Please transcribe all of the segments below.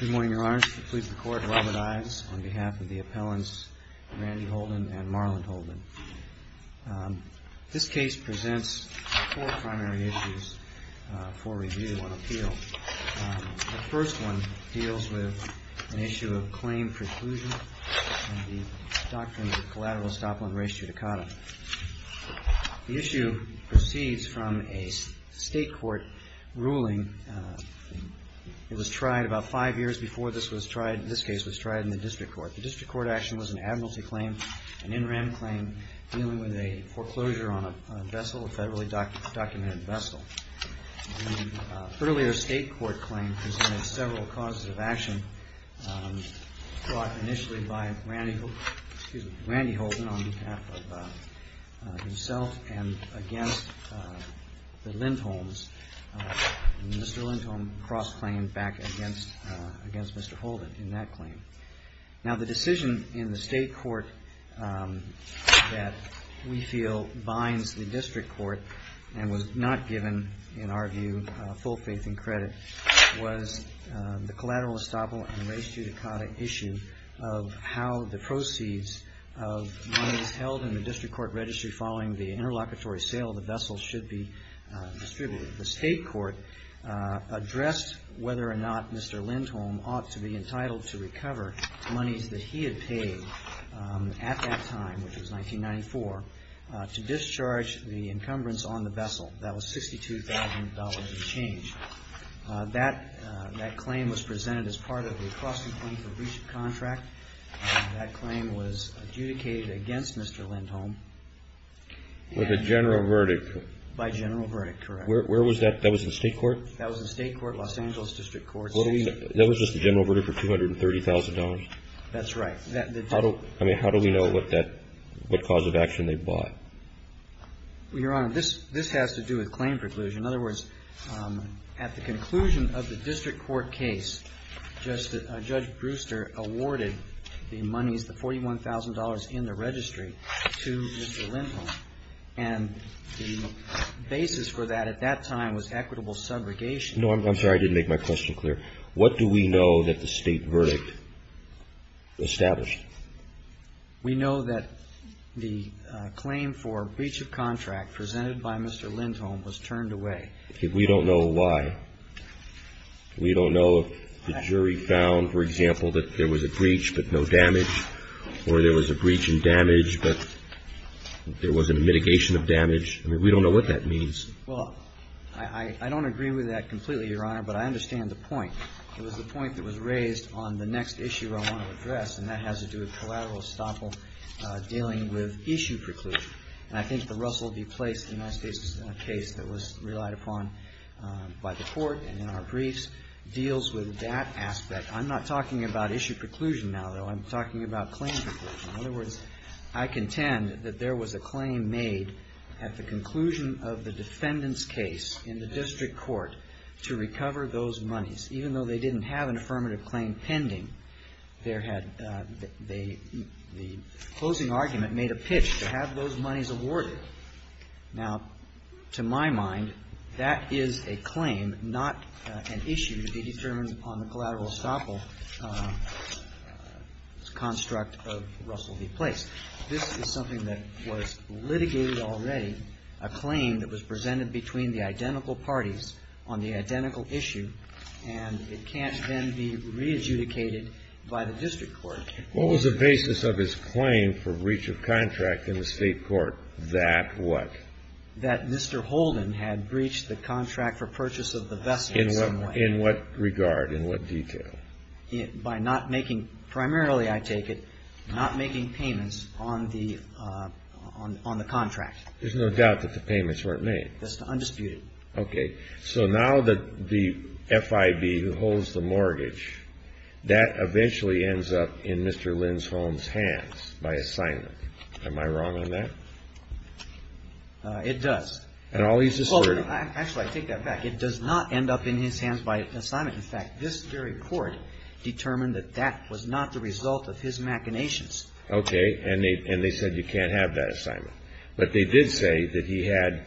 Good morning, Your Honor. Please record Robert Ives on behalf of the appellants Randy Holden and Marlon Holden. This case presents four primary issues for review and appeal. The first one deals with an issue of claim preclusion and the doctrine of collateral estoppel and res judicata. The issue proceeds from a state court ruling. It was tried about five years before this case was tried in the district court. The district court action was an admiralty claim, an in rem claim dealing with a foreclosure on a vessel, a federally documented vessel. The earlier state court claim presented several causes of action brought initially by Randy Holden on behalf of himself and against the Lindholms. And Mr. Lindholm cross-claimed back against Mr. Holden in that claim. Now the decision in the state court that we feel binds the district court and was not given, in our view, full faith and credit, was the collateral estoppel and res judicata issue of how the proceeds of monies held in the district court registry following the interlocutory sale of the vessel should be distributed. The state court addressed whether or not Mr. Lindholm ought to be entitled to recover monies that he had paid at that time, which was 1994, to discharge the encumbrance on the vessel. That was $62,000 and change. That claim was presented as part of the crossing claim for breach of contract. That claim was adjudicated against Mr. Lindholm. With a general verdict. By general verdict, correct. Where was that? That was the state court? That was the state court, Los Angeles District Court. That was just the general verdict for $230,000? That's right. I mean, how do we know what cause of action they bought? Your Honor, this has to do with claim preclusion. In other words, at the conclusion of the district court case, Judge Brewster awarded the monies, the $41,000 in the registry, to Mr. Lindholm. And the basis for that at that time was equitable segregation. No, I'm sorry. I didn't make my question clear. What do we know that the state verdict established? We know that the claim for breach of contract presented by Mr. Lindholm was turned away. We don't know why. We don't know if the jury found, for example, that there was a breach, but no damage, or there was a breach and damage, but there wasn't a mitigation of damage. I mean, we don't know what that means. Well, I don't agree with that completely, Your Honor, but I understand the point. It was the point that was raised on the next issue I want to address, and that has to do with collateral estoppel dealing with issue preclusion. And I think the Russell v. Place United States case that was relied upon by the court and in our briefs deals with that aspect. I'm not talking about issue preclusion now, though. I'm talking about claim preclusion. In other words, I contend that there was a claim made at the conclusion of the defendant's case in the district court to recover those monies. Even though they didn't have an affirmative claim pending, the closing argument made a pitch to have those monies awarded. Now, to my mind, that is a claim, not an issue to be determined upon the collateral estoppel construct of Russell v. Place. This is something that was litigated already, a claim that was presented between the identical parties on the identical issue, and it can't then be re-adjudicated by the district court. What was the basis of his claim for breach of contract in the state court? That what? That Mr. Holden had breached the contract for purchase of the vessel in some way. In what regard? In what detail? By not making, primarily I take it, not making payments on the contract. There's no doubt that the payments weren't made. Undisputed. Okay. So now the FIB who holds the mortgage, that eventually ends up in Mr. Linsholm's hands by assignment. Am I wrong on that? It does. And all he's asserting? Actually, I take that back. It does not end up in his hands by assignment. In fact, this very court determined that that was not the result of his machinations. Okay. And they said you can't have that assignment. But they did say that he had,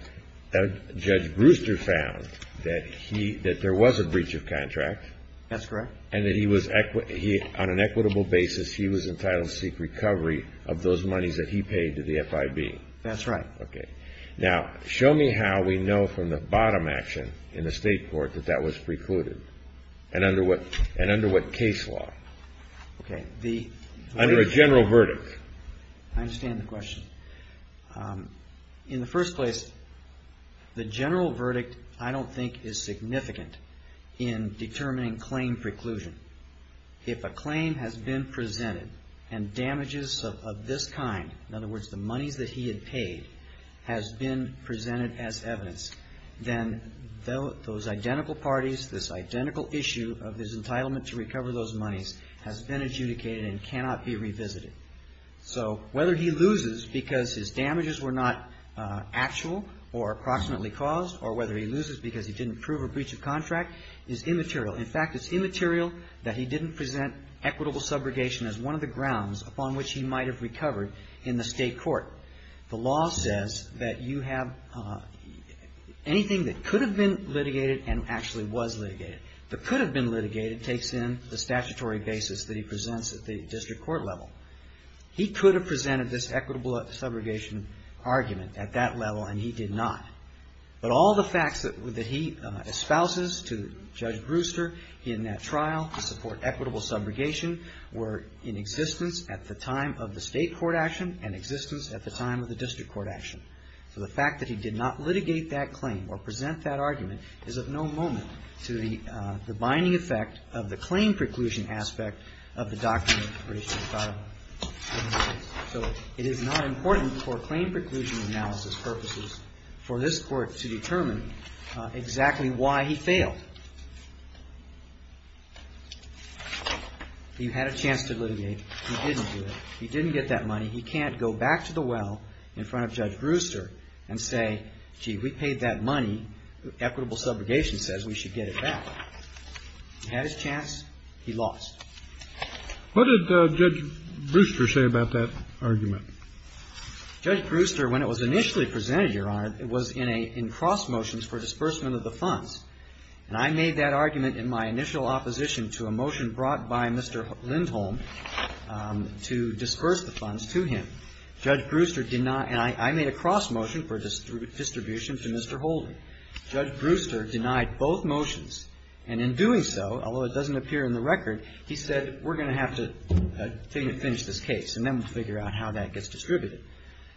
Judge Brewster found that he, that there was a breach of contract. That's correct. And that he was, on an equitable basis, he was entitled to seek recovery of those monies that he paid to the FIB. That's right. Okay. Now, show me how we know from the bottom action in the state court that that was precluded, and under what case law? Okay. Under a general verdict. I understand the question. In the first place, the general verdict, I don't think, is significant in determining claim preclusion. If a claim has been presented and damages of this kind, in other words, the monies that he had paid, has been presented as evidence, then those identical parties, this identical issue of his entitlement to recover those monies, has been adjudicated and cannot be revisited. So whether he loses because his damages were not actual or approximately caused, or whether he loses because he didn't prove a breach of contract, is immaterial. In fact, it's immaterial that he didn't present equitable subrogation as one of the grounds upon which he might have recovered in the state court. The law says that you have anything that could have been litigated and actually was litigated. The could have been litigated takes in the statutory basis that he presents at the district court level. He could have presented this equitable subrogation argument at that level, and he did not. But all the facts that he espouses to Judge Brewster in that trial to support equitable subrogation were in existence at the time of the state court action and existence at the time of the district court action. So the fact that he did not litigate that claim or present that argument is of no moment to the binding effect of the claim preclusion aspect of the doctrine of equitable subrogation. So it is not important for claim preclusion analysis purposes for this court to determine exactly why he failed. He had a chance to litigate. He didn't do it. He didn't get that money. He can't go back to the well in front of Judge Brewster and say, gee, we paid that money. Equitable subrogation says we should get it back. He had his chance. He lost. Kennedy. What did Judge Brewster say about that argument? Judge Brewster, when it was initially presented, Your Honor, it was in a — in cross motions for disbursement of the funds. And I made that argument in my initial opposition to a motion brought by Mr. Lindholm to disburse the funds to him. Judge Brewster did not — and I made a cross motion for distribution to Mr. Holder. Judge Brewster denied both motions. And in doing so, although it doesn't appear in the record, he said, we're going to have to finish this case and then we'll figure out how that gets distributed.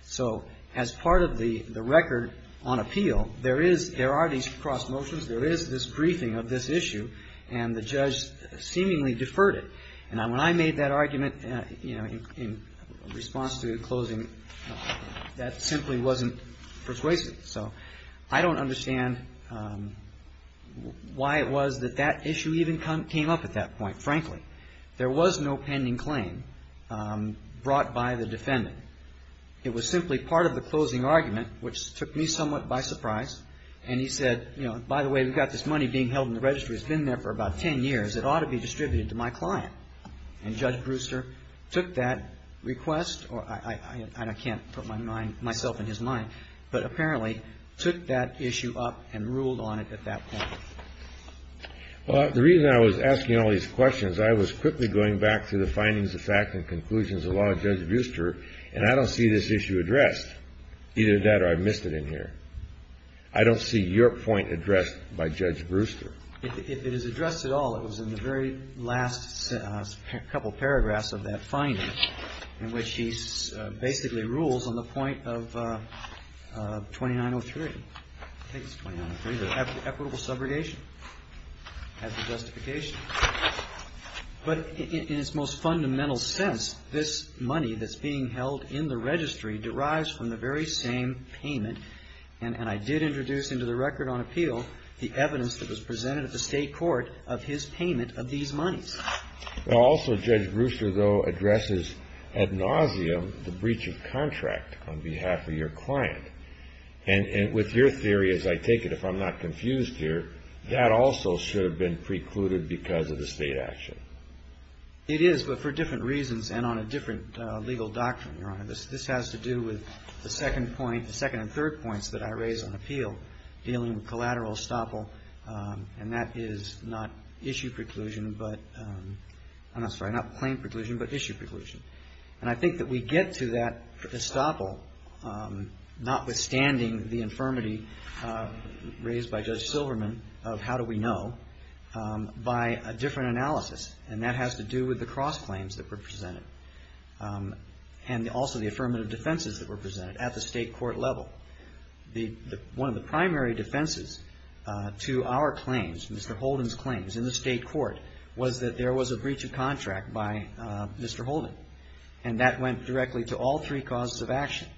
So as part of the record on appeal, there is — there are these cross motions. There is this briefing of this issue. And the judge seemingly deferred it. And when I made that argument, you know, in response to the closing, that simply wasn't persuasive. So I don't understand why it was that that issue even came up at that point. Frankly, there was no pending claim brought by the defendant. It was simply part of the closing argument, which took me somewhat by surprise. And he said, you know, by the way, we've got this money being held in the registry. It's been there for about 10 years. It ought to be distributed to my client. And Judge Brewster took that request — and I can't put my mind — myself in his mind, but apparently took that issue up and ruled on it at that point. Well, the reason I was asking all these questions, I was quickly going back to the findings, the facts and conclusions of Law Judge Brewster. And I don't see this issue addressed, either that or I missed it in here. I don't see your point addressed by Judge Brewster. If it is addressed at all, it was in the very last couple paragraphs of that finding in which he basically rules on the point of 2903. I think it's 2903, the equitable subrogation as the justification. But in its most fundamental sense, this money that's being held in the registry derives from the very same payment. And I did introduce into the record on appeal the evidence that was presented at the state court of his payment of these monies. Also, Judge Brewster, though, addresses ad nauseum the breach of contract on behalf of your client. And with your theory, as I take it, if I'm not confused here, that also should have been precluded because of the state action. It is, but for different reasons and on a different legal doctrine, Your Honor. This has to do with the second point — the second and third points that I raise on appeal dealing with collateral estoppel. And that is not issue preclusion, but — I'm sorry, not plain preclusion, but issue preclusion. And I think that we get to that estoppel, notwithstanding the infirmity raised by Judge Silverman of how do we know, by a different analysis. And that has to do with the cross-claims that were presented and also the affirmative defenses that were presented at the state court level. One of the primary defenses to our claims, Mr. Holden's claims in the state court, was that there was a breach of contract by Mr. Holden. And that went directly to all three causes of action.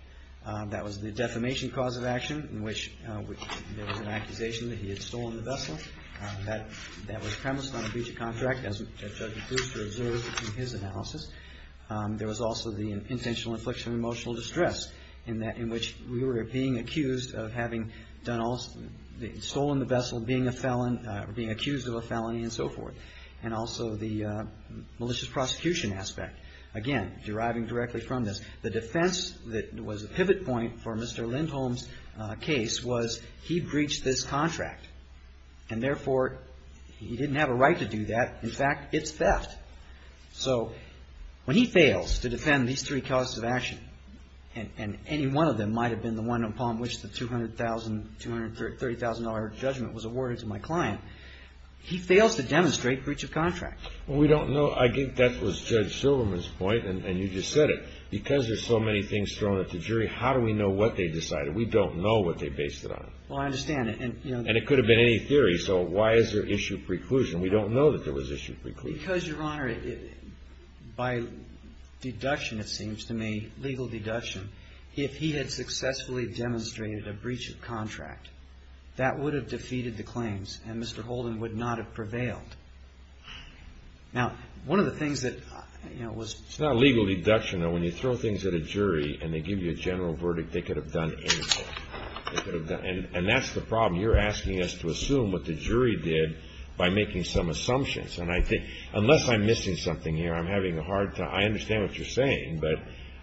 That was the defamation cause of action, in which there was an accusation that he had stolen the vessel. That was premised on a breach of contract, as Judge Brewster observed in his analysis. There was also the intentional infliction of emotional distress, in which we were being accused of having stolen the vessel, being a felon, being accused of a felony, and so forth. And also the malicious prosecution aspect, again, deriving directly from this. The defense that was a pivot point for Mr. Lindholm's case was he breached this contract. And therefore, he didn't have a right to do that. In fact, it's theft. So when he fails to defend these three causes of action, and any one of them might have been the one upon which the $200,000, $230,000 judgment was awarded to my client, he fails to demonstrate breach of contract. Well, we don't know. I think that was Judge Silverman's point, and you just said it. Because there's so many things thrown at the jury, how do we know what they decided? We don't know what they based it on. Well, I understand. And it could have been any theory. So why is there issue preclusion? We don't know that there was issue preclusion. Because, Your Honor, by deduction, it seems to me, legal deduction, if he had successfully demonstrated a breach of contract, that would have defeated the claims, and Mr. Holden would not have prevailed. Now, one of the things that, you know, was ---- It's not a legal deduction, though. When you throw things at a jury and they give you a general verdict, they could have done anything. They could have done anything. And that's the problem. You're asking us to assume what the jury did by making some assumptions. And I think unless I'm missing something here, I'm having a hard time. I understand what you're saying, but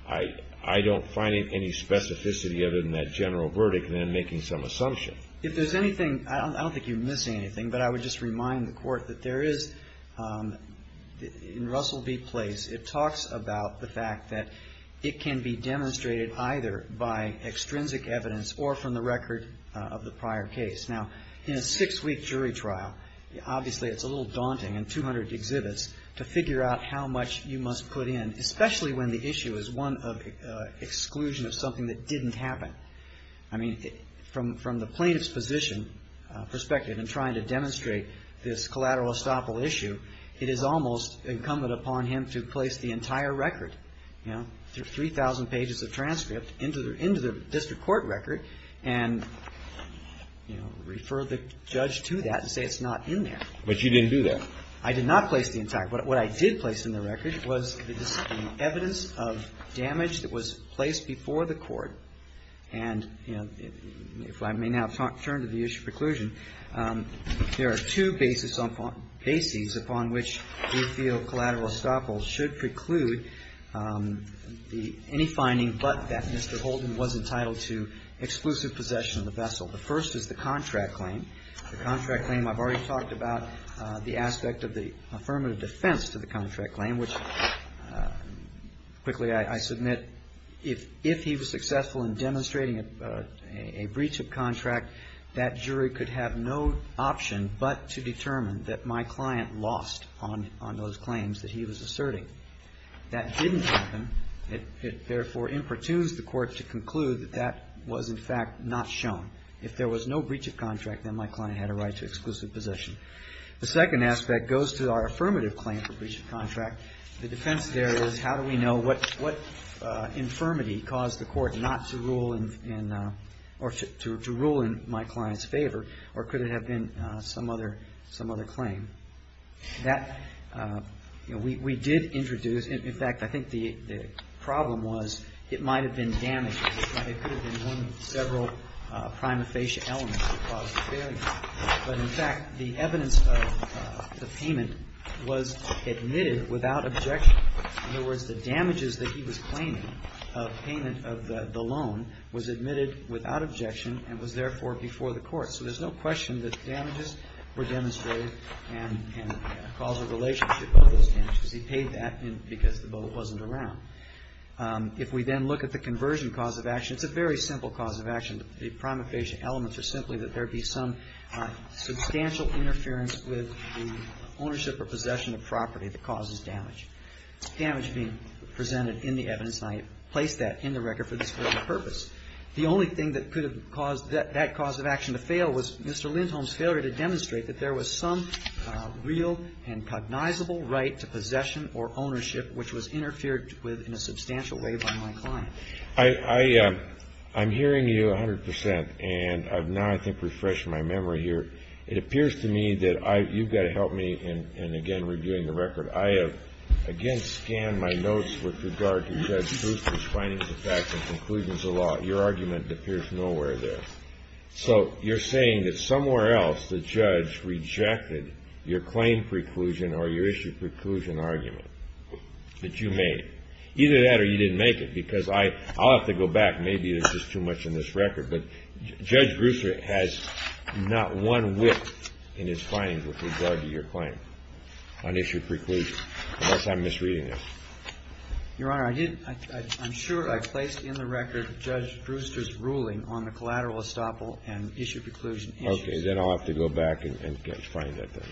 I don't find any specificity other than that general verdict and then making some assumption. If there's anything, I don't think you're missing anything, but I would just remind the Court that there is, in Russell v. Place, it talks about the fact that it can be demonstrated either by extrinsic evidence or from the record of the prior case. Now, in a six-week jury trial, obviously it's a little daunting in 200 exhibits to figure out how much you must put in, especially when the issue is one of exclusion of something that didn't happen. I mean, from the plaintiff's position, perspective, in trying to demonstrate this collateral estoppel issue, it is almost incumbent upon him to place the entire record, you know, refer the judge to that and say it's not in there. But you didn't do that. I did not place the entire. What I did place in the record was the evidence of damage that was placed before the Court. And, you know, if I may now turn to the issue of preclusion, there are two bases upon which we feel collateral estoppels should preclude any finding but that Mr. Holden was entitled to exclusive possession of the vessel. The first is the contract claim. The contract claim, I've already talked about the aspect of the affirmative defense to the contract claim, which quickly I submit if he was successful in demonstrating a breach of contract, that jury could have no option but to determine that my client lost on those claims that he was asserting. That didn't happen. It, therefore, impertunes the Court to conclude that that was, in fact, not shown. If there was no breach of contract, then my client had a right to exclusive possession. The second aspect goes to our affirmative claim for breach of contract. The defense there is how do we know what infirmity caused the Court not to rule in or to rule in my client's favor, or could it have been some other claim? That, you know, we did introduce, in fact, I think the problem was it might have been damage. It could have been one of several prima facie elements that caused the failure. But, in fact, the evidence of the payment was admitted without objection. In other words, the damages that he was claiming of payment of the loan was admitted without objection and was, therefore, before the Court. So there's no question that damages were demonstrated and a causal relationship with those damages. He paid that because the boat wasn't around. If we then look at the conversion cause of action, it's a very simple cause of action. The prima facie elements are simply that there be some substantial interference with the ownership or possession of property that causes damage. Damage being presented in the evidence, and I placed that in the record for this purpose. The only thing that could have caused that cause of action to fail was Mr. Lindholm's failure to demonstrate that there was some real and cognizable right to possession or ownership which was interfered with in a substantial way by my client. I'm hearing you 100 percent, and I've now, I think, refreshed my memory here. It appears to me that you've got to help me in, again, reviewing the record. I have, again, scanned my notes with regard to Judge Brewster's findings of facts and conclusions of law. Your argument appears nowhere there. So you're saying that somewhere else the judge rejected your claim preclusion or your issue preclusion argument that you made. Either that or you didn't make it because I'll have to go back. Maybe there's just too much in this record. But Judge Brewster has not one whiff in his findings with regard to your claim on issue preclusion. Unless I'm misreading this. Your Honor, I didn't. I'm sure I placed in the record Judge Brewster's ruling on the collateral estoppel and issue preclusion issues. Okay. Then I'll have to go back and find that then.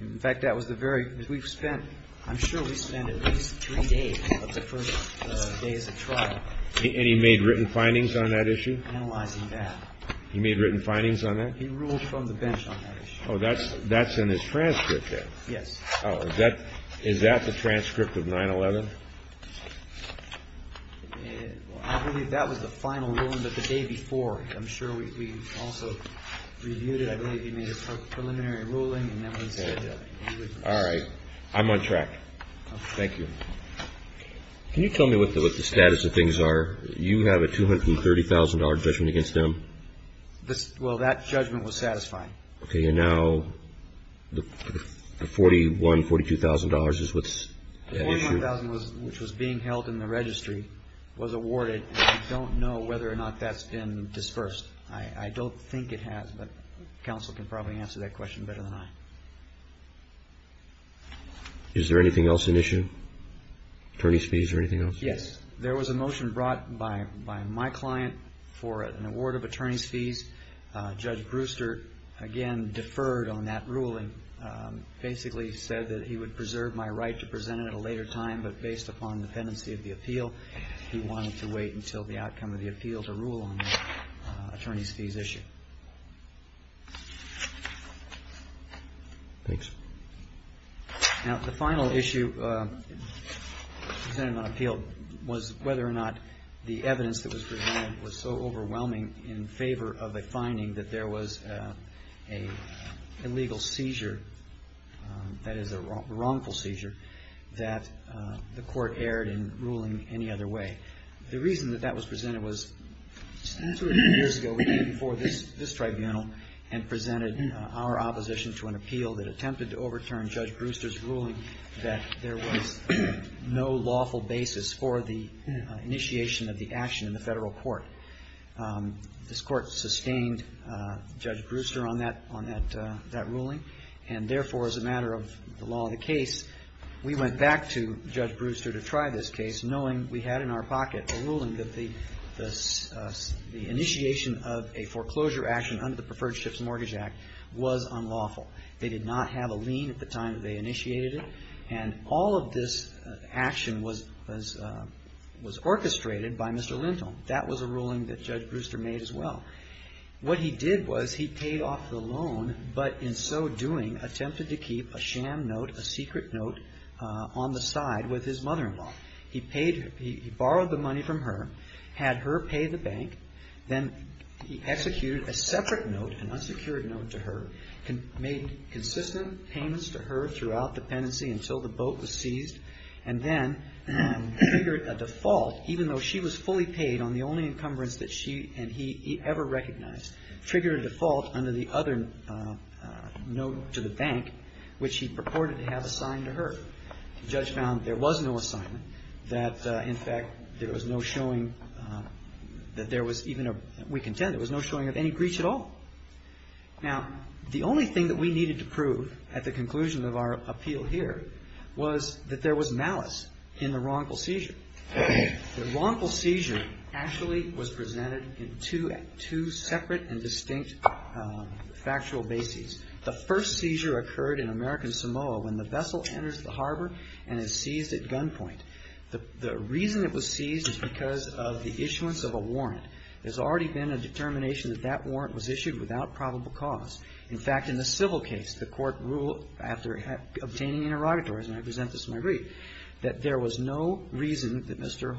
In fact, that was the very, we've spent, I'm sure we've spent at least three days of the first days of trial. And he made written findings on that issue? Analyzing that. He made written findings on that? He ruled from the bench on that issue. Oh, that's in his transcript then? Yes. Oh, is that the transcript of 9-11? I believe that was the final ruling. But the day before, I'm sure we also reviewed it. I believe he made a preliminary ruling. All right. I'm on track. Thank you. Can you tell me what the status of things are? You have a $230,000 judgment against them? Well, that judgment was satisfying. Okay. And now the $41,000, $42,000 is what's at issue? The $41,000 which was being held in the registry was awarded. We don't know whether or not that's been dispersed. I don't think it has, but counsel can probably answer that question better than I. Is there anything else in issue? Attorney's fees or anything else? Yes. There was a motion brought by my client for an award of attorney's fees. Judge Brewster, again, deferred on that ruling. Basically said that he would preserve my right to present it at a later time, but based upon dependency of the appeal, he wanted to wait until the outcome of the appeal to rule on the attorney's fees issue. Thanks. Now, the final issue presented on appeal was whether or not the evidence that was presented was so overwhelming in favor of a finding that there was an illegal seizure, that is a wrongful seizure, that the court erred in ruling any other way. The reason that that was presented was two or three years ago we came before this tribunal and presented our opposition to an appeal that attempted to overturn Judge Brewster's ruling that there was no lawful basis for the initiation of the action in the federal court. This court sustained Judge Brewster on that ruling, and, therefore, as a matter of the law of the case, we went back to Judge Brewster to try this case knowing we had in our pocket a ruling that the initiation of a foreclosure action under the Preferred Ships Mortgage Act was unlawful. They did not have a lien at the time that they initiated it, and all of this action was orchestrated by Mr. Lentil. That was a ruling that Judge Brewster made as well. What he did was he paid off the loan but, in so doing, attempted to keep a sham note, a secret note, on the side with his mother-in-law. He borrowed the money from her, had her pay the bank, then he executed a separate note, an unsecured note to her, made consistent payments to her throughout the pendency until the boat was seized, and then figured a default, even though she was fully paid on the only encumbrance that she and he ever recognized, triggered a default under the other note to the bank, which he purported to have assigned to her. The judge found there was no assignment, that, in fact, there was no showing that there was even a – we contend there was no showing of any breach at all. Now, the only thing that we needed to prove at the conclusion of our appeal here was that there was malice in the wrongful seizure. The wrongful seizure actually was presented in two separate and distinct factual bases. The first seizure occurred in American Samoa when the vessel enters the harbor and is seized at gunpoint. The reason it was seized is because of the issuance of a warrant. There's already been a determination that that warrant was issued without probable cause. In fact, in the civil case, the court ruled after obtaining interrogatories, and I present this in my brief, that there was no reason that Mr.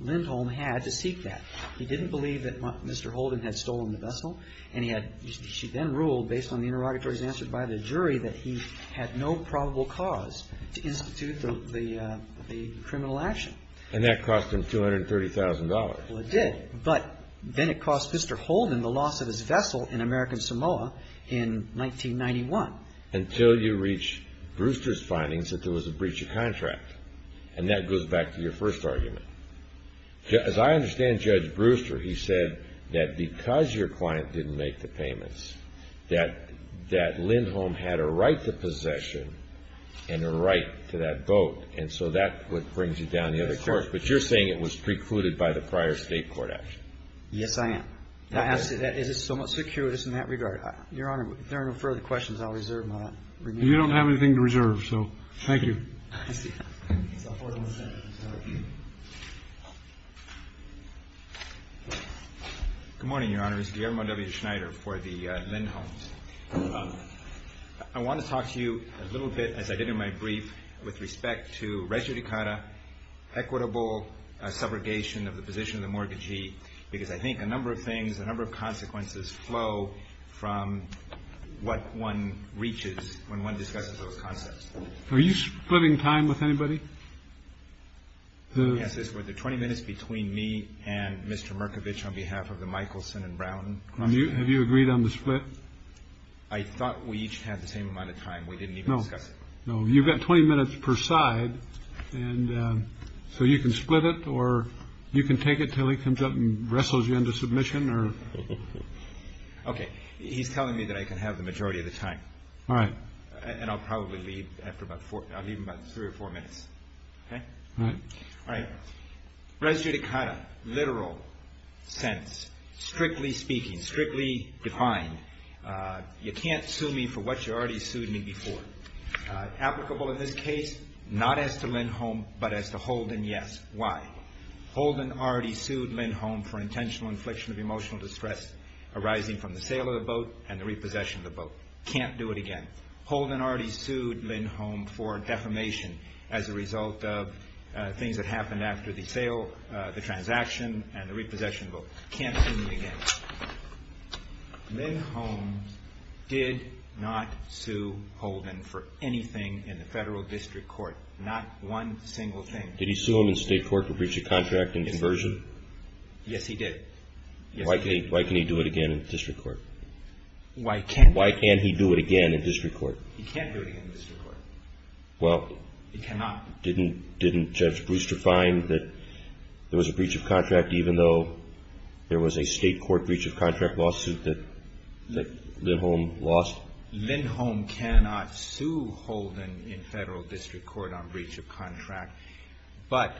Lindholm had to seek that. He didn't believe that Mr. Holden had stolen the vessel. And he had – she then ruled, based on the interrogatories answered by the jury, that he had no probable cause to institute the criminal action. And that cost him $230,000. Well, it did. But then it cost Mr. Holden the loss of his vessel in American Samoa in 1991. Until you reach Brewster's findings that there was a breach of contract. And that goes back to your first argument. As I understand Judge Brewster, he said that because your client didn't make the payments, that Lindholm had a right to possession and a right to that boat. And so that's what brings you down the other course. But you're saying it was precluded by the prior State court action. Yes, I am. That is somewhat circuitous in that regard. Your Honor, if there are no further questions, I'll reserve my remaining time. You don't have anything to reserve, so thank you. Good morning, Your Honor. This is Guillermo W. Schneider for the Lindholms. I want to talk to you a little bit, as I did in my brief, with respect to rejudicata, equitable subrogation of the position of the mortgagee. Because I think a number of things, a number of consequences flow from what one reaches when one discusses those concepts. Are you splitting time with anybody? Yes. This was the 20 minutes between me and Mr. Markovitch on behalf of the Michelson and Brown. Have you agreed on the split? I thought we each had the same amount of time. We didn't know. No, you've got 20 minutes per side. And so you can split it or you can take it till he comes up and wrestles you into submission or. OK. He's telling me that I can have the majority of the time. All right. And I'll probably leave after about four. I'll leave about three or four minutes. All right. All right. Residue to kind of literal sense, strictly speaking, strictly defined. You can't sue me for what you already sued me before. Applicable in this case, not as to Lindholm, but as to Holden, yes. Why? Holden already sued Lindholm for intentional infliction of emotional distress arising from the sale of the boat and the repossession of the boat. Can't do it again. Holden already sued Lindholm for defamation as a result of things that happened after the sale, the transaction and the repossession of the boat. Can't do it again. Lindholm did not sue Holden for anything in the federal district court. Not one single thing. Did he sue him in state court for breach of contract and conversion? Yes, he did. Why can't he do it again in district court? Why can't he do it again in district court? He can't do it again in district court. Well, didn't Judge Brewster find that there was a breach of contract even though there was a state court breach of contract lawsuit that Lindholm lost? Lindholm cannot sue Holden in federal district court on breach of contract. But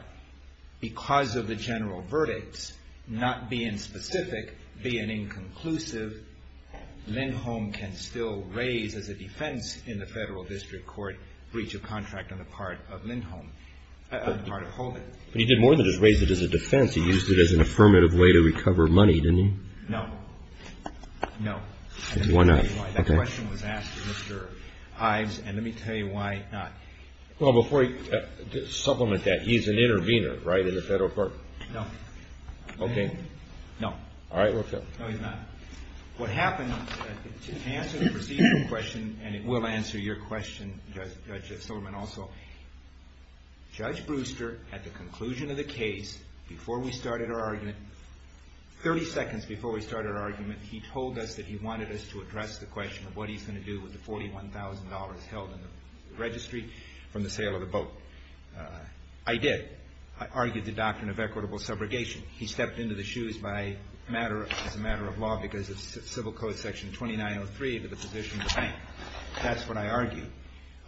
because of the general verdicts, not being specific, being inconclusive, Lindholm can still raise as a defense in the federal district court breach of contract on the part of Lindholm, on the part of Holden. But he did more than just raise it as a defense. He used it as an affirmative way to recover money, didn't he? No. No. Why not? That question was asked to Mr. Hives, and let me tell you why not. Well, before you supplement that, he's an intervener, right, in the federal court? No. Okay. No. All right. No, he's not. What happened, to answer the procedural question, and it will answer your question, Judge Silverman, also, Judge Brewster, at the conclusion of the case, before we started our argument, 30 seconds before we started our argument, he told us that he wanted us to address the question of what he's going to do with the $41,000 held in the registry. From the sale of the boat. I did. I argued the doctrine of equitable subrogation. He stepped into the shoes as a matter of law because of civil code section 2903 to the position of the bank. That's what I argued.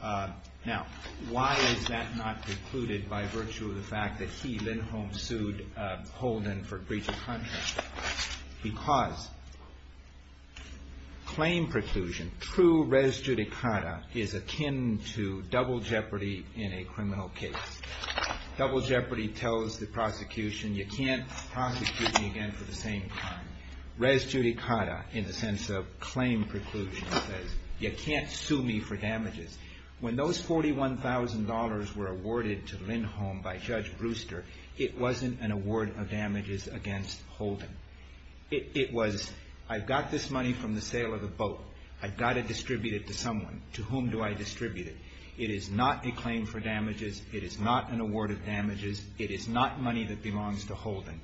Now, why is that not precluded by virtue of the fact that he, Lindholm, sued Holden for breach of contract? Because claim preclusion, true res judicata, is akin to double jeopardy in a criminal case. Double jeopardy tells the prosecution you can't prosecute me again for the same crime. Res judicata, in the sense of claim preclusion, says you can't sue me for damages. When those $41,000 were awarded to Lindholm by Judge Brewster, it wasn't an award of damages against Holden. It was, I've got this money from the sale of the boat. I've got to distribute it to someone. To whom do I distribute it? It is not a claim for damages. It is not an award of damages. It is not money that belongs to Holden.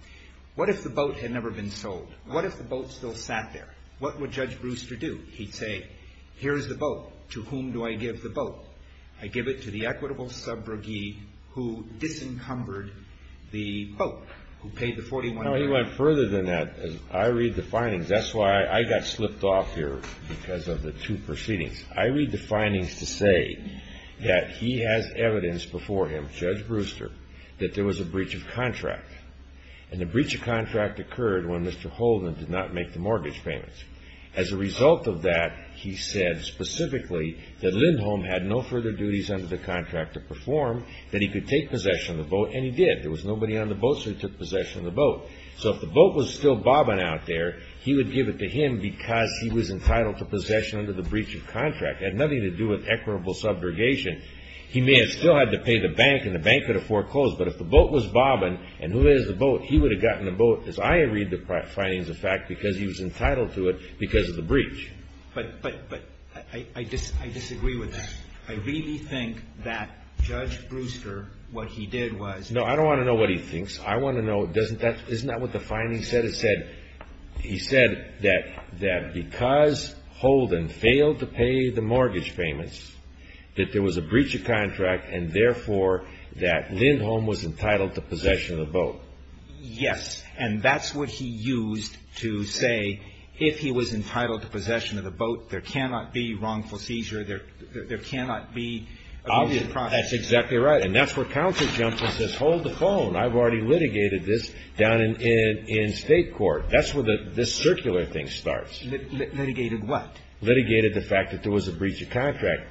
What if the boat had never been sold? What if the boat still sat there? What would Judge Brewster do? He'd say, here's the boat. To whom do I give the boat? I give it to the equitable subrogee who disencumbered the boat, who paid the $41,000. No, he went further than that. I read the findings. That's why I got slipped off here because of the two proceedings. I read the findings to say that he has evidence before him, Judge Brewster, that there was a breach of contract. And the breach of contract occurred when Mr. Holden did not make the mortgage payments. As a result of that, he said specifically that Lindholm had no further duties under the contract to perform, that he could take possession of the boat, and he did. There was nobody on the boat, so he took possession of the boat. So if the boat was still bobbing out there, he would give it to him because he was entitled to possession under the breach of contract. It had nothing to do with equitable subrogation. He may have still had to pay the bank, and the bank could have foreclosed, but if the boat was bobbing, and who has the boat, he would have gotten the boat, as I read the findings, in fact, because he was entitled to it because of the breach. But I disagree with that. I really think that Judge Brewster, what he did was No, I don't want to know what he thinks. I want to know, isn't that what the findings said? He said that because Holden failed to pay the mortgage payments, that there was a breach of contract, and therefore that Lindholm was entitled to possession of the boat. Yes, and that's what he used to say if he was entitled to possession of the boat, there cannot be wrongful seizure. There cannot be abuse of property. That's exactly right, and that's where counsel jumps in and says, hold the phone. I've already litigated this down in state court. That's where this circular thing starts. Litigated what? Litigated the fact that there was a breach of contract.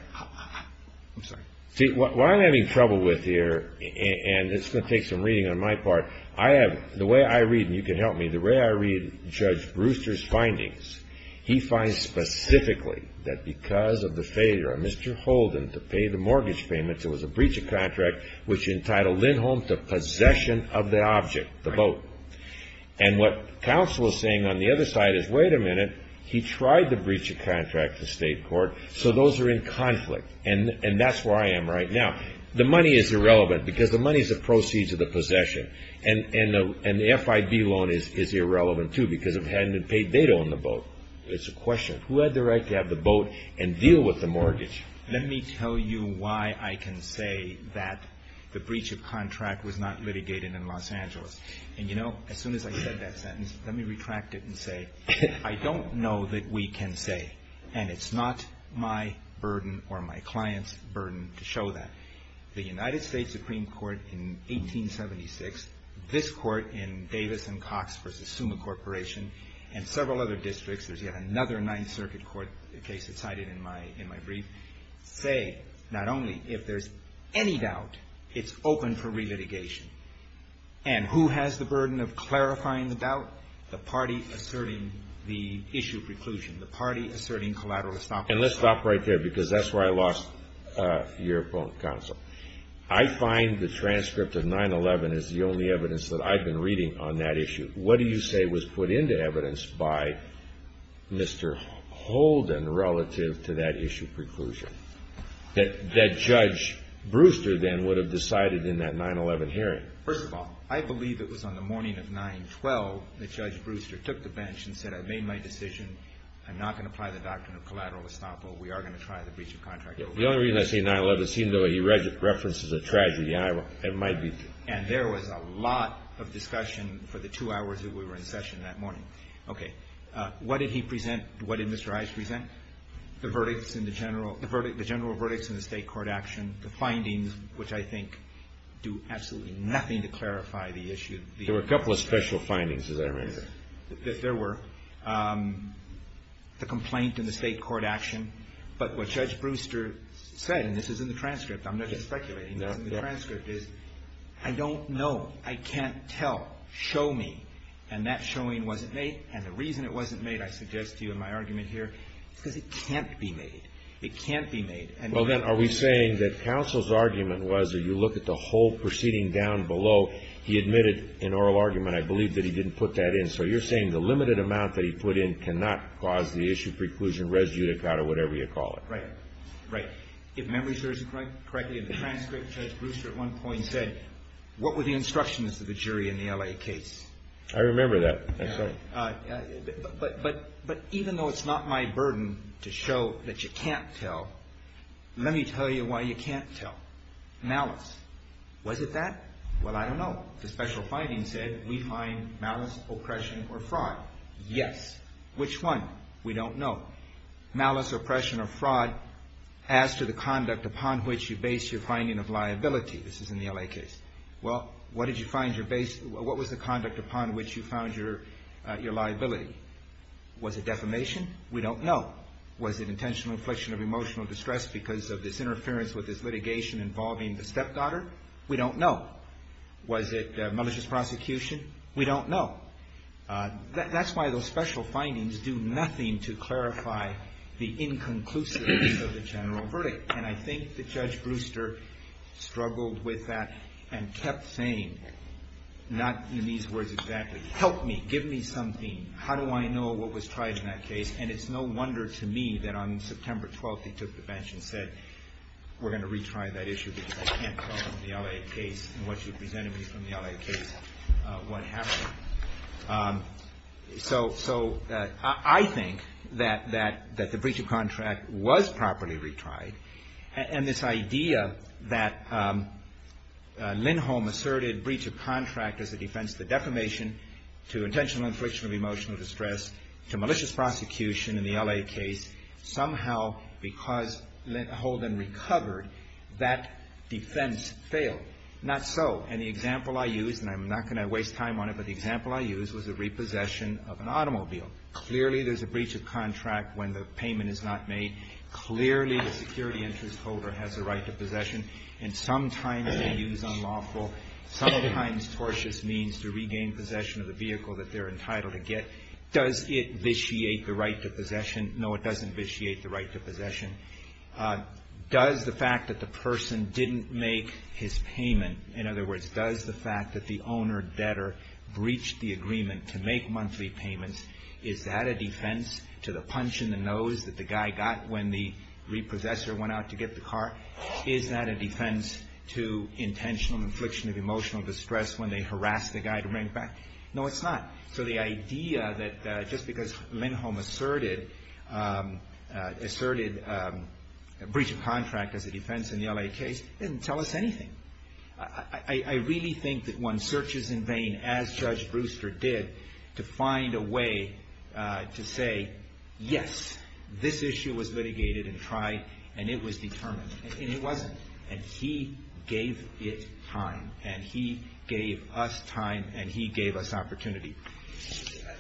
I'm sorry. See, what I'm having trouble with here, and it's going to take some reading on my part, I have, the way I read, and you can help me, the way I read Judge Brewster's findings, he finds specifically that because of the failure of Mr. Holden to pay the mortgage payments, there was a breach of contract which entitled Lindholm to possession of the object, the boat. And what counsel is saying on the other side is, wait a minute, he tried to breach a contract in state court, so those are in conflict, and that's where I am right now. The money is irrelevant because the money is the proceeds of the possession, and the FIB loan is irrelevant too because it hadn't been paid. They don't own the boat. It's a question. Who had the right to have the boat and deal with the mortgage? Let me tell you why I can say that the breach of contract was not litigated in Los Angeles. And, you know, as soon as I said that sentence, let me retract it and say I don't know that we can say, and it's not my burden or my client's burden to show that. The United States Supreme Court in 1876, this court in Davis and Cox v. Suma Corporation, and several other districts, there's yet another Ninth Circuit court case that's cited in my brief, say not only if there's any doubt, it's open for re-litigation. And who has the burden of clarifying the doubt? The party asserting the issue of reclusion, the party asserting collateralism. And let's stop right there because that's where I lost your point, counsel. I find the transcript of 9-11 is the only evidence that I've been reading on that issue. What do you say was put into evidence by Mr. Holden relative to that issue of preclusion, that Judge Brewster then would have decided in that 9-11 hearing? First of all, I believe it was on the morning of 9-12 that Judge Brewster took the bench and said, I've made my decision. I'm not going to apply the doctrine of collateral estoppel. We are going to try the breach of contract. The only reason I say 9-11, seeing the way he references a tragedy, it might be true. And there was a lot of discussion for the two hours that we were in session that morning. Okay. What did he present? What did Mr. Ives present? The verdicts in the general verdicts in the state court action, the findings, which I think do absolutely nothing to clarify the issue. There were a couple of special findings, as I remember. There were. The complaint in the state court action. But what Judge Brewster said, and this is in the transcript, I'm not just speculating, is I don't know. I can't tell. Show me. And that showing wasn't made. And the reason it wasn't made, I suggest to you in my argument here, is because it can't be made. It can't be made. Well, then, are we saying that counsel's argument was that you look at the whole proceeding down below, he admitted an oral argument. I believe that he didn't put that in. So you're saying the limited amount that he put in cannot cause the issue preclusion res judicata, whatever you call it. Right. Right. If memory serves me correctly in the transcript, Judge Brewster at one point said, what were the instructions of the jury in the L.A. case? I remember that. But even though it's not my burden to show that you can't tell, let me tell you why you can't tell. Malice. Was it that? Well, I don't know. The special findings said we find malice, oppression, or fraud. Yes. Which one? We don't know. Malice, oppression, or fraud as to the conduct upon which you base your finding of liability. This is in the L.A. case. Well, what was the conduct upon which you found your liability? Was it defamation? We don't know. Was it intentional infliction of emotional distress because of this interference with this litigation involving the stepdaughter? We don't know. Was it malicious prosecution? We don't know. That's why those special findings do nothing to clarify the inconclusiveness of the general verdict. And I think that Judge Brewster struggled with that and kept saying, not in these words exactly, help me. Give me something. How do I know what was tried in that case? And it's no wonder to me that on September 12th he took the bench and said, we're going to retry that issue because I can't tell from the L.A. case and what you presented me from the L.A. case what happened. So I think that the breach of contract was properly retried. And this idea that Lindholm asserted breach of contract as a defense to defamation, to intentional infliction of emotional distress, to malicious prosecution in the L.A. case, somehow because Lindholm recovered, that defense failed. Not so. And the example I used, and I'm not going to waste time on it, but the example I used was the repossession of an automobile. Clearly there's a breach of contract when the payment is not made. Clearly the security interest holder has a right to possession. And sometimes they use unlawful, sometimes tortious means to regain possession of the vehicle that they're entitled to get. Does it vitiate the right to possession? No, it doesn't vitiate the right to possession. Does the fact that the person didn't make his payment, in other words, does the fact that the owner-debtor breached the agreement to make monthly payments, is that a defense to the punch in the nose that the guy got when the repossessor went out to get the car? Is that a defense to intentional infliction of emotional distress when they harass the guy to bring it back? No, it's not. So the idea that just because Lindholm asserted a breach of contract as a defense in the L.A. case didn't tell us anything. I really think that one searches in vain, as Judge Brewster did, to find a way to say, yes, this issue was litigated and tried, and it was determined, and it wasn't. And he gave it time, and he gave us time, and he gave us opportunity.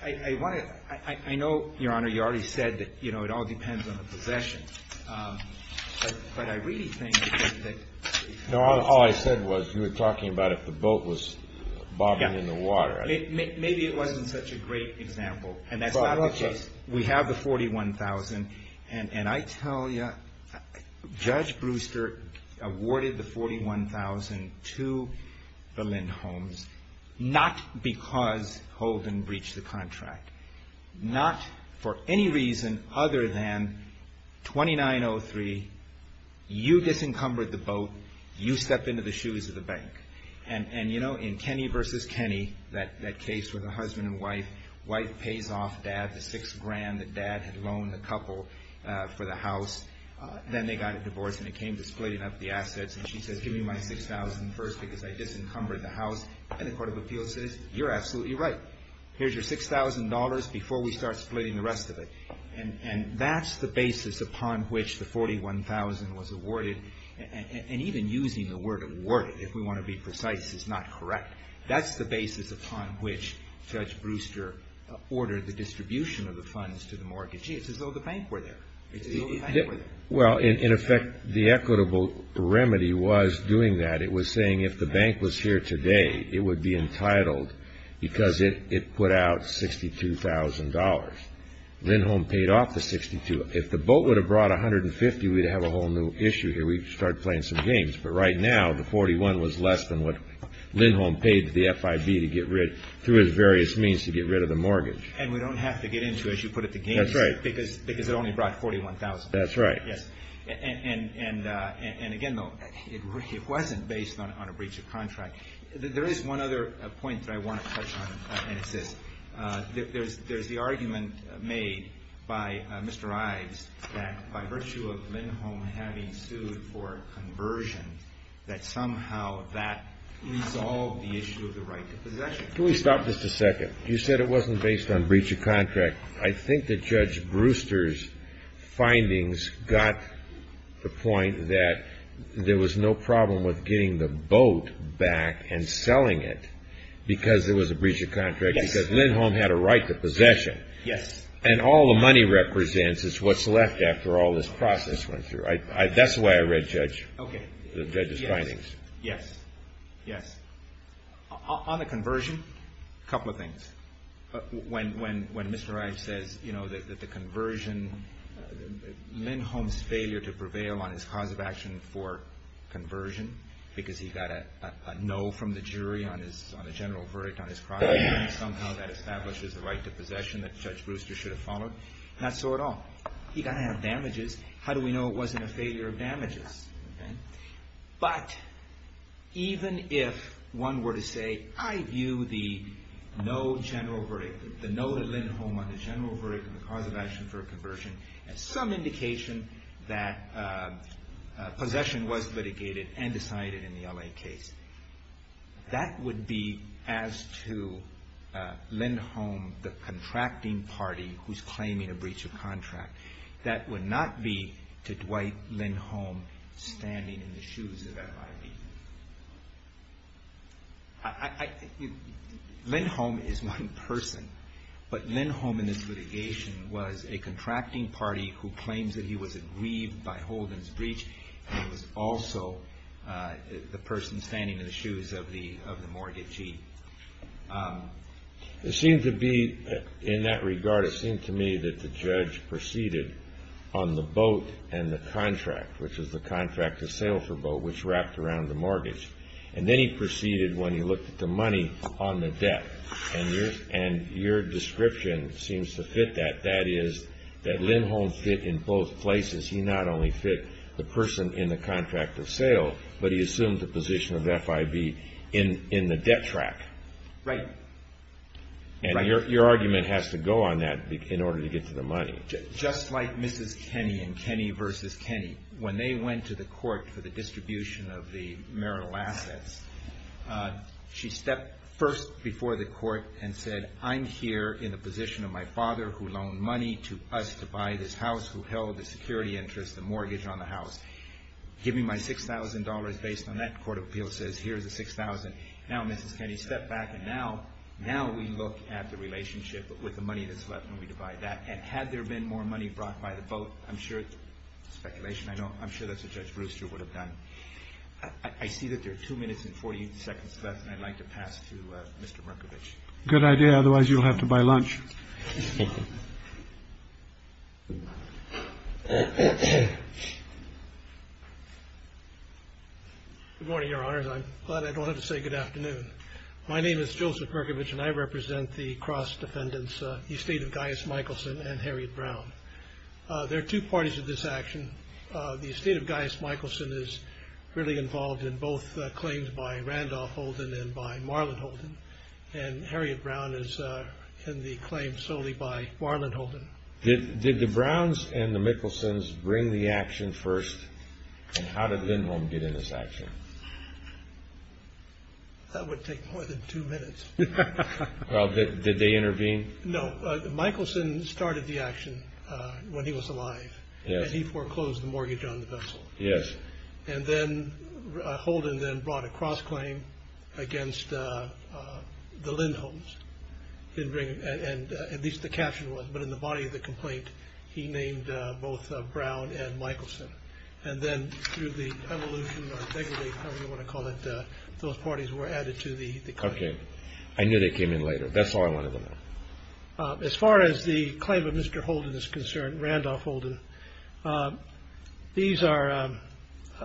I know, Your Honor, you already said that, you know, it all depends on the possession. But I really think that- No, all I said was you were talking about if the boat was bobbing in the water. Maybe it wasn't such a great example, and that's not the case. We have the $41,000. And I tell you, Judge Brewster awarded the $41,000 to the Lindholms not because Holden breached the contract, not for any reason other than 2903, you disencumbered the boat, you stepped into the shoes of the bank. And, you know, in Kenny v. Kenny, that case with the husband and wife, wife pays off dad the six grand that dad had loaned the couple for the house. Then they got a divorce, and it came to splitting up the assets. And she says, give me my $6,000 first because I disencumbered the house. And the Court of Appeals says, you're absolutely right. Here's your $6,000 before we start splitting the rest of it. And that's the basis upon which the $41,000 was awarded. And even using the word awarded, if we want to be precise, is not correct. That's the basis upon which Judge Brewster ordered the distribution of the funds to the mortgagee. It's as though the bank were there. It's as though the bank were there. Well, in effect, the equitable remedy was doing that. It was saying if the bank was here today, it would be entitled because it put out $62,000. Lindholm paid off the $62,000. If the boat would have brought $150,000, we'd have a whole new issue here. We'd start playing some games. But right now, the $41,000 was less than what Lindholm paid to the FIB to get rid, through his various means, to get rid of the mortgage. And we don't have to get into, as you put it, the games. That's right. Because it only brought $41,000. That's right. Yes. And again, though, it wasn't based on a breach of contract. There is one other point that I want to touch on, and it's this. There's the argument made by Mr. Ives that by virtue of Lindholm having sued for conversion, that somehow that resolved the issue of the right to possession. Can we stop just a second? You said it wasn't based on breach of contract. I think that Judge Brewster's findings got the point that there was no problem with getting the boat back and selling it because there was a breach of contract. Yes. Because Lindholm had a right to possession. Yes. And all the money represents is what's left after all this process went through. That's the way I read Judge's findings. Okay. Yes. Yes. Yes. On the conversion, a couple of things. When Mr. Ives says that the conversion, Lindholm's failure to prevail on his cause of action for conversion because he got a no from the jury on the general verdict on his crime, somehow that establishes the right to possession that Judge Brewster should have followed. Not so at all. He got to have damages. How do we know it wasn't a failure of damages? Okay. But even if one were to say, I view the no general verdict, the no to Lindholm on the general verdict on the cause of action for a conversion as some indication that possession was litigated and decided in the L.A. case, that would be as to Lindholm, the contracting party who's claiming a breach of contract. That would not be to Dwight Lindholm standing in the shoes of FIB. Lindholm is one person, but Lindholm in this litigation was a contracting party who claims that he was aggrieved by Holden's breach and was also the person standing in the shoes of the mortgagee. It seems to be in that regard, it seemed to me that the judge proceeded on the boat and the contract, which was the contract of sale for boat, which wrapped around the mortgage. And then he proceeded when he looked at the money on the debt. And your description seems to fit that. That is, that Lindholm fit in both places. He not only fit the person in the contract of sale, but he assumed the position of FIB in the debt track. Right. And your argument has to go on that in order to get to the money. Just like Mrs. Kenney and Kenney versus Kenney. When they went to the court for the distribution of the marital assets, she stepped first before the court and said, I'm here in the position of my father who loaned money to us to buy this house, who held the security interest, the mortgage on the house. Give me my $6,000 based on that. Court of Appeals says, here's the $6,000. Now, Mrs. Kenney stepped back and now we look at the relationship with the money that's left when we divide that. And had there been more money brought by the vote, I'm sure it's speculation. I'm sure that's what Judge Brewster would have done. I see that there are two minutes and 40 seconds left, and I'd like to pass to Mr. Merkovich. Good idea. Otherwise, you'll have to buy lunch. Good morning, Your Honors. I'm glad I don't have to say good afternoon. My name is Joseph Merkovich, and I represent the cross defendants, the estate of Gaius Michelson and Harriet Brown. There are two parties to this action. The estate of Gaius Michelson is really involved in both claims by Randolph Holden and by Marlon Holden, and Harriet Brown is in the claim solely by Marlon Holden. Did the Browns and the Michelsons bring the action first, and how did Lindholm get in this action? That would take more than two minutes. Well, did they intervene? No. Michelson started the action when he was alive, and he foreclosed the mortgage on the vessel. Yes. And then Holden then brought a cross claim against the Lindholms. And at least the caption was, but in the body of the complaint, he named both Brown and Michelson. And then through the evolution or integrity, however you want to call it, those parties were added to the case. Okay. I knew they came in later. That's all I wanted to know. As far as the claim of Mr. Holden is concerned, Randolph Holden, these are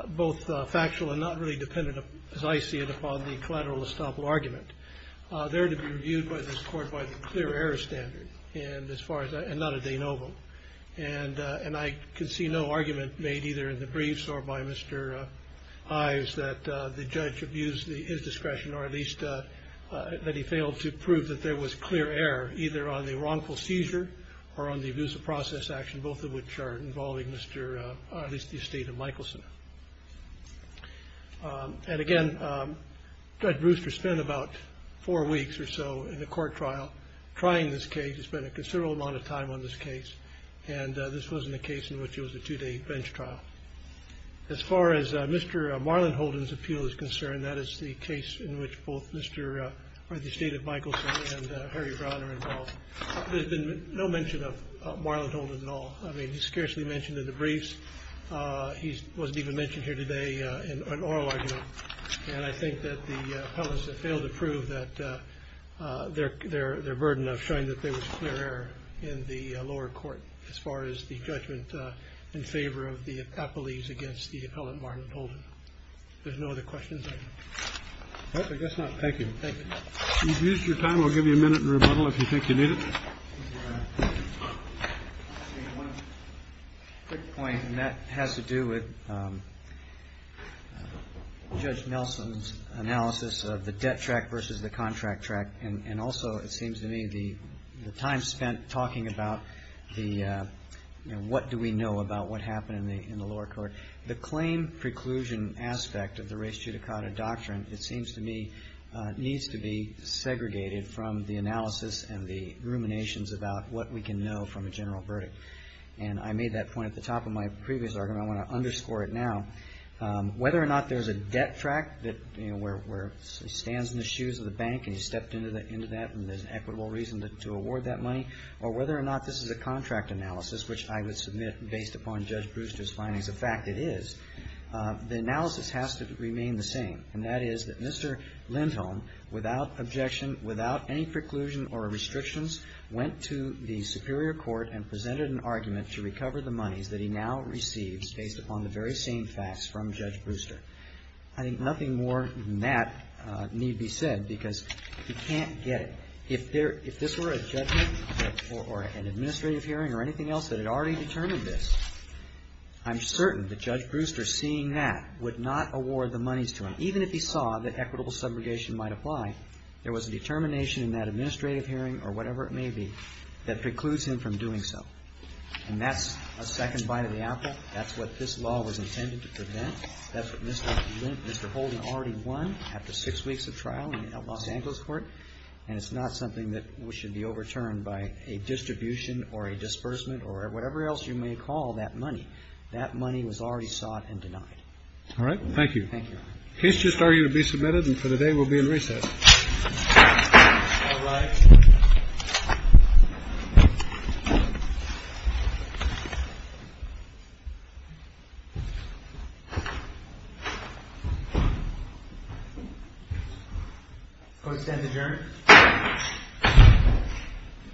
both factual and not really dependent, as I see it, upon the collateral estoppel argument. They're to be reviewed by this court by the clear error standard and not a de novo. And I can see no argument made either in the briefs or by Mr. Hives that the judge abused his discretion or at least that he failed to prove that there was clear error either on the wrongful seizure or on the abuse of process action, both of which are involving at least the estate of Michelson. And, again, Judge Brewster spent about four weeks or so in the court trial trying this case. He spent a considerable amount of time on this case. And this wasn't a case in which it was a two-day bench trial. As far as Mr. Marland Holden's appeal is concerned, that is the case in which both the estate of Michelson and Harry Brown are involved. There's been no mention of Marland Holden at all. I mean, he's scarcely mentioned in the briefs. He wasn't even mentioned here today in oral argument. And I think that the appellants have failed to prove that their burden of showing that there was clear error in the lower court, as far as the judgment in favor of the appellees against the appellant Marland Holden. There's no other questions? I guess not. Thank you. Thank you. You've used your time. I'll give you a minute in rebuttal if you think you need it. One quick point, and that has to do with Judge Nelson's analysis of the debt track versus the contract track. And also it seems to me the time spent talking about the what do we know about what happened in the lower court, the claim preclusion aspect of the res judicata doctrine, it seems to me, needs to be segregated from the analysis and the ruminations about what we can know from a general verdict. And I made that point at the top of my previous argument. I want to underscore it now. Whether or not there's a debt track where he stands in the shoes of the bank and he's stepped into that and there's an equitable reason to award that money, or whether or not this is a contract analysis, which I would submit based upon Judge Brewster's findings of fact it is, the analysis has to remain the same. And that is that Mr. Lindholm, without objection, without any preclusion or restrictions, went to the superior court and presented an argument to recover the monies that he now receives based upon the very same facts from Judge Brewster. I think nothing more than that need be said because he can't get it. If this were a judgment or an administrative hearing or anything else that had already determined this, I'm certain that Judge Brewster, seeing that, would not award the monies to him. Even if he saw that equitable subrogation might apply, there was a determination in that administrative hearing or whatever it may be that precludes him from doing so. And that's a second bite of the apple. That's what this law was intended to prevent. That's what Mr. Holden already won after six weeks of trial in Los Angeles court. And it's not something that should be overturned by a distribution or a disbursement or whatever else you may call that money. That money was already sought and denied. All right. Thank you. Thank you. The case just argued to be submitted, and for the day we'll be in recess. All rise. Court is adjourned.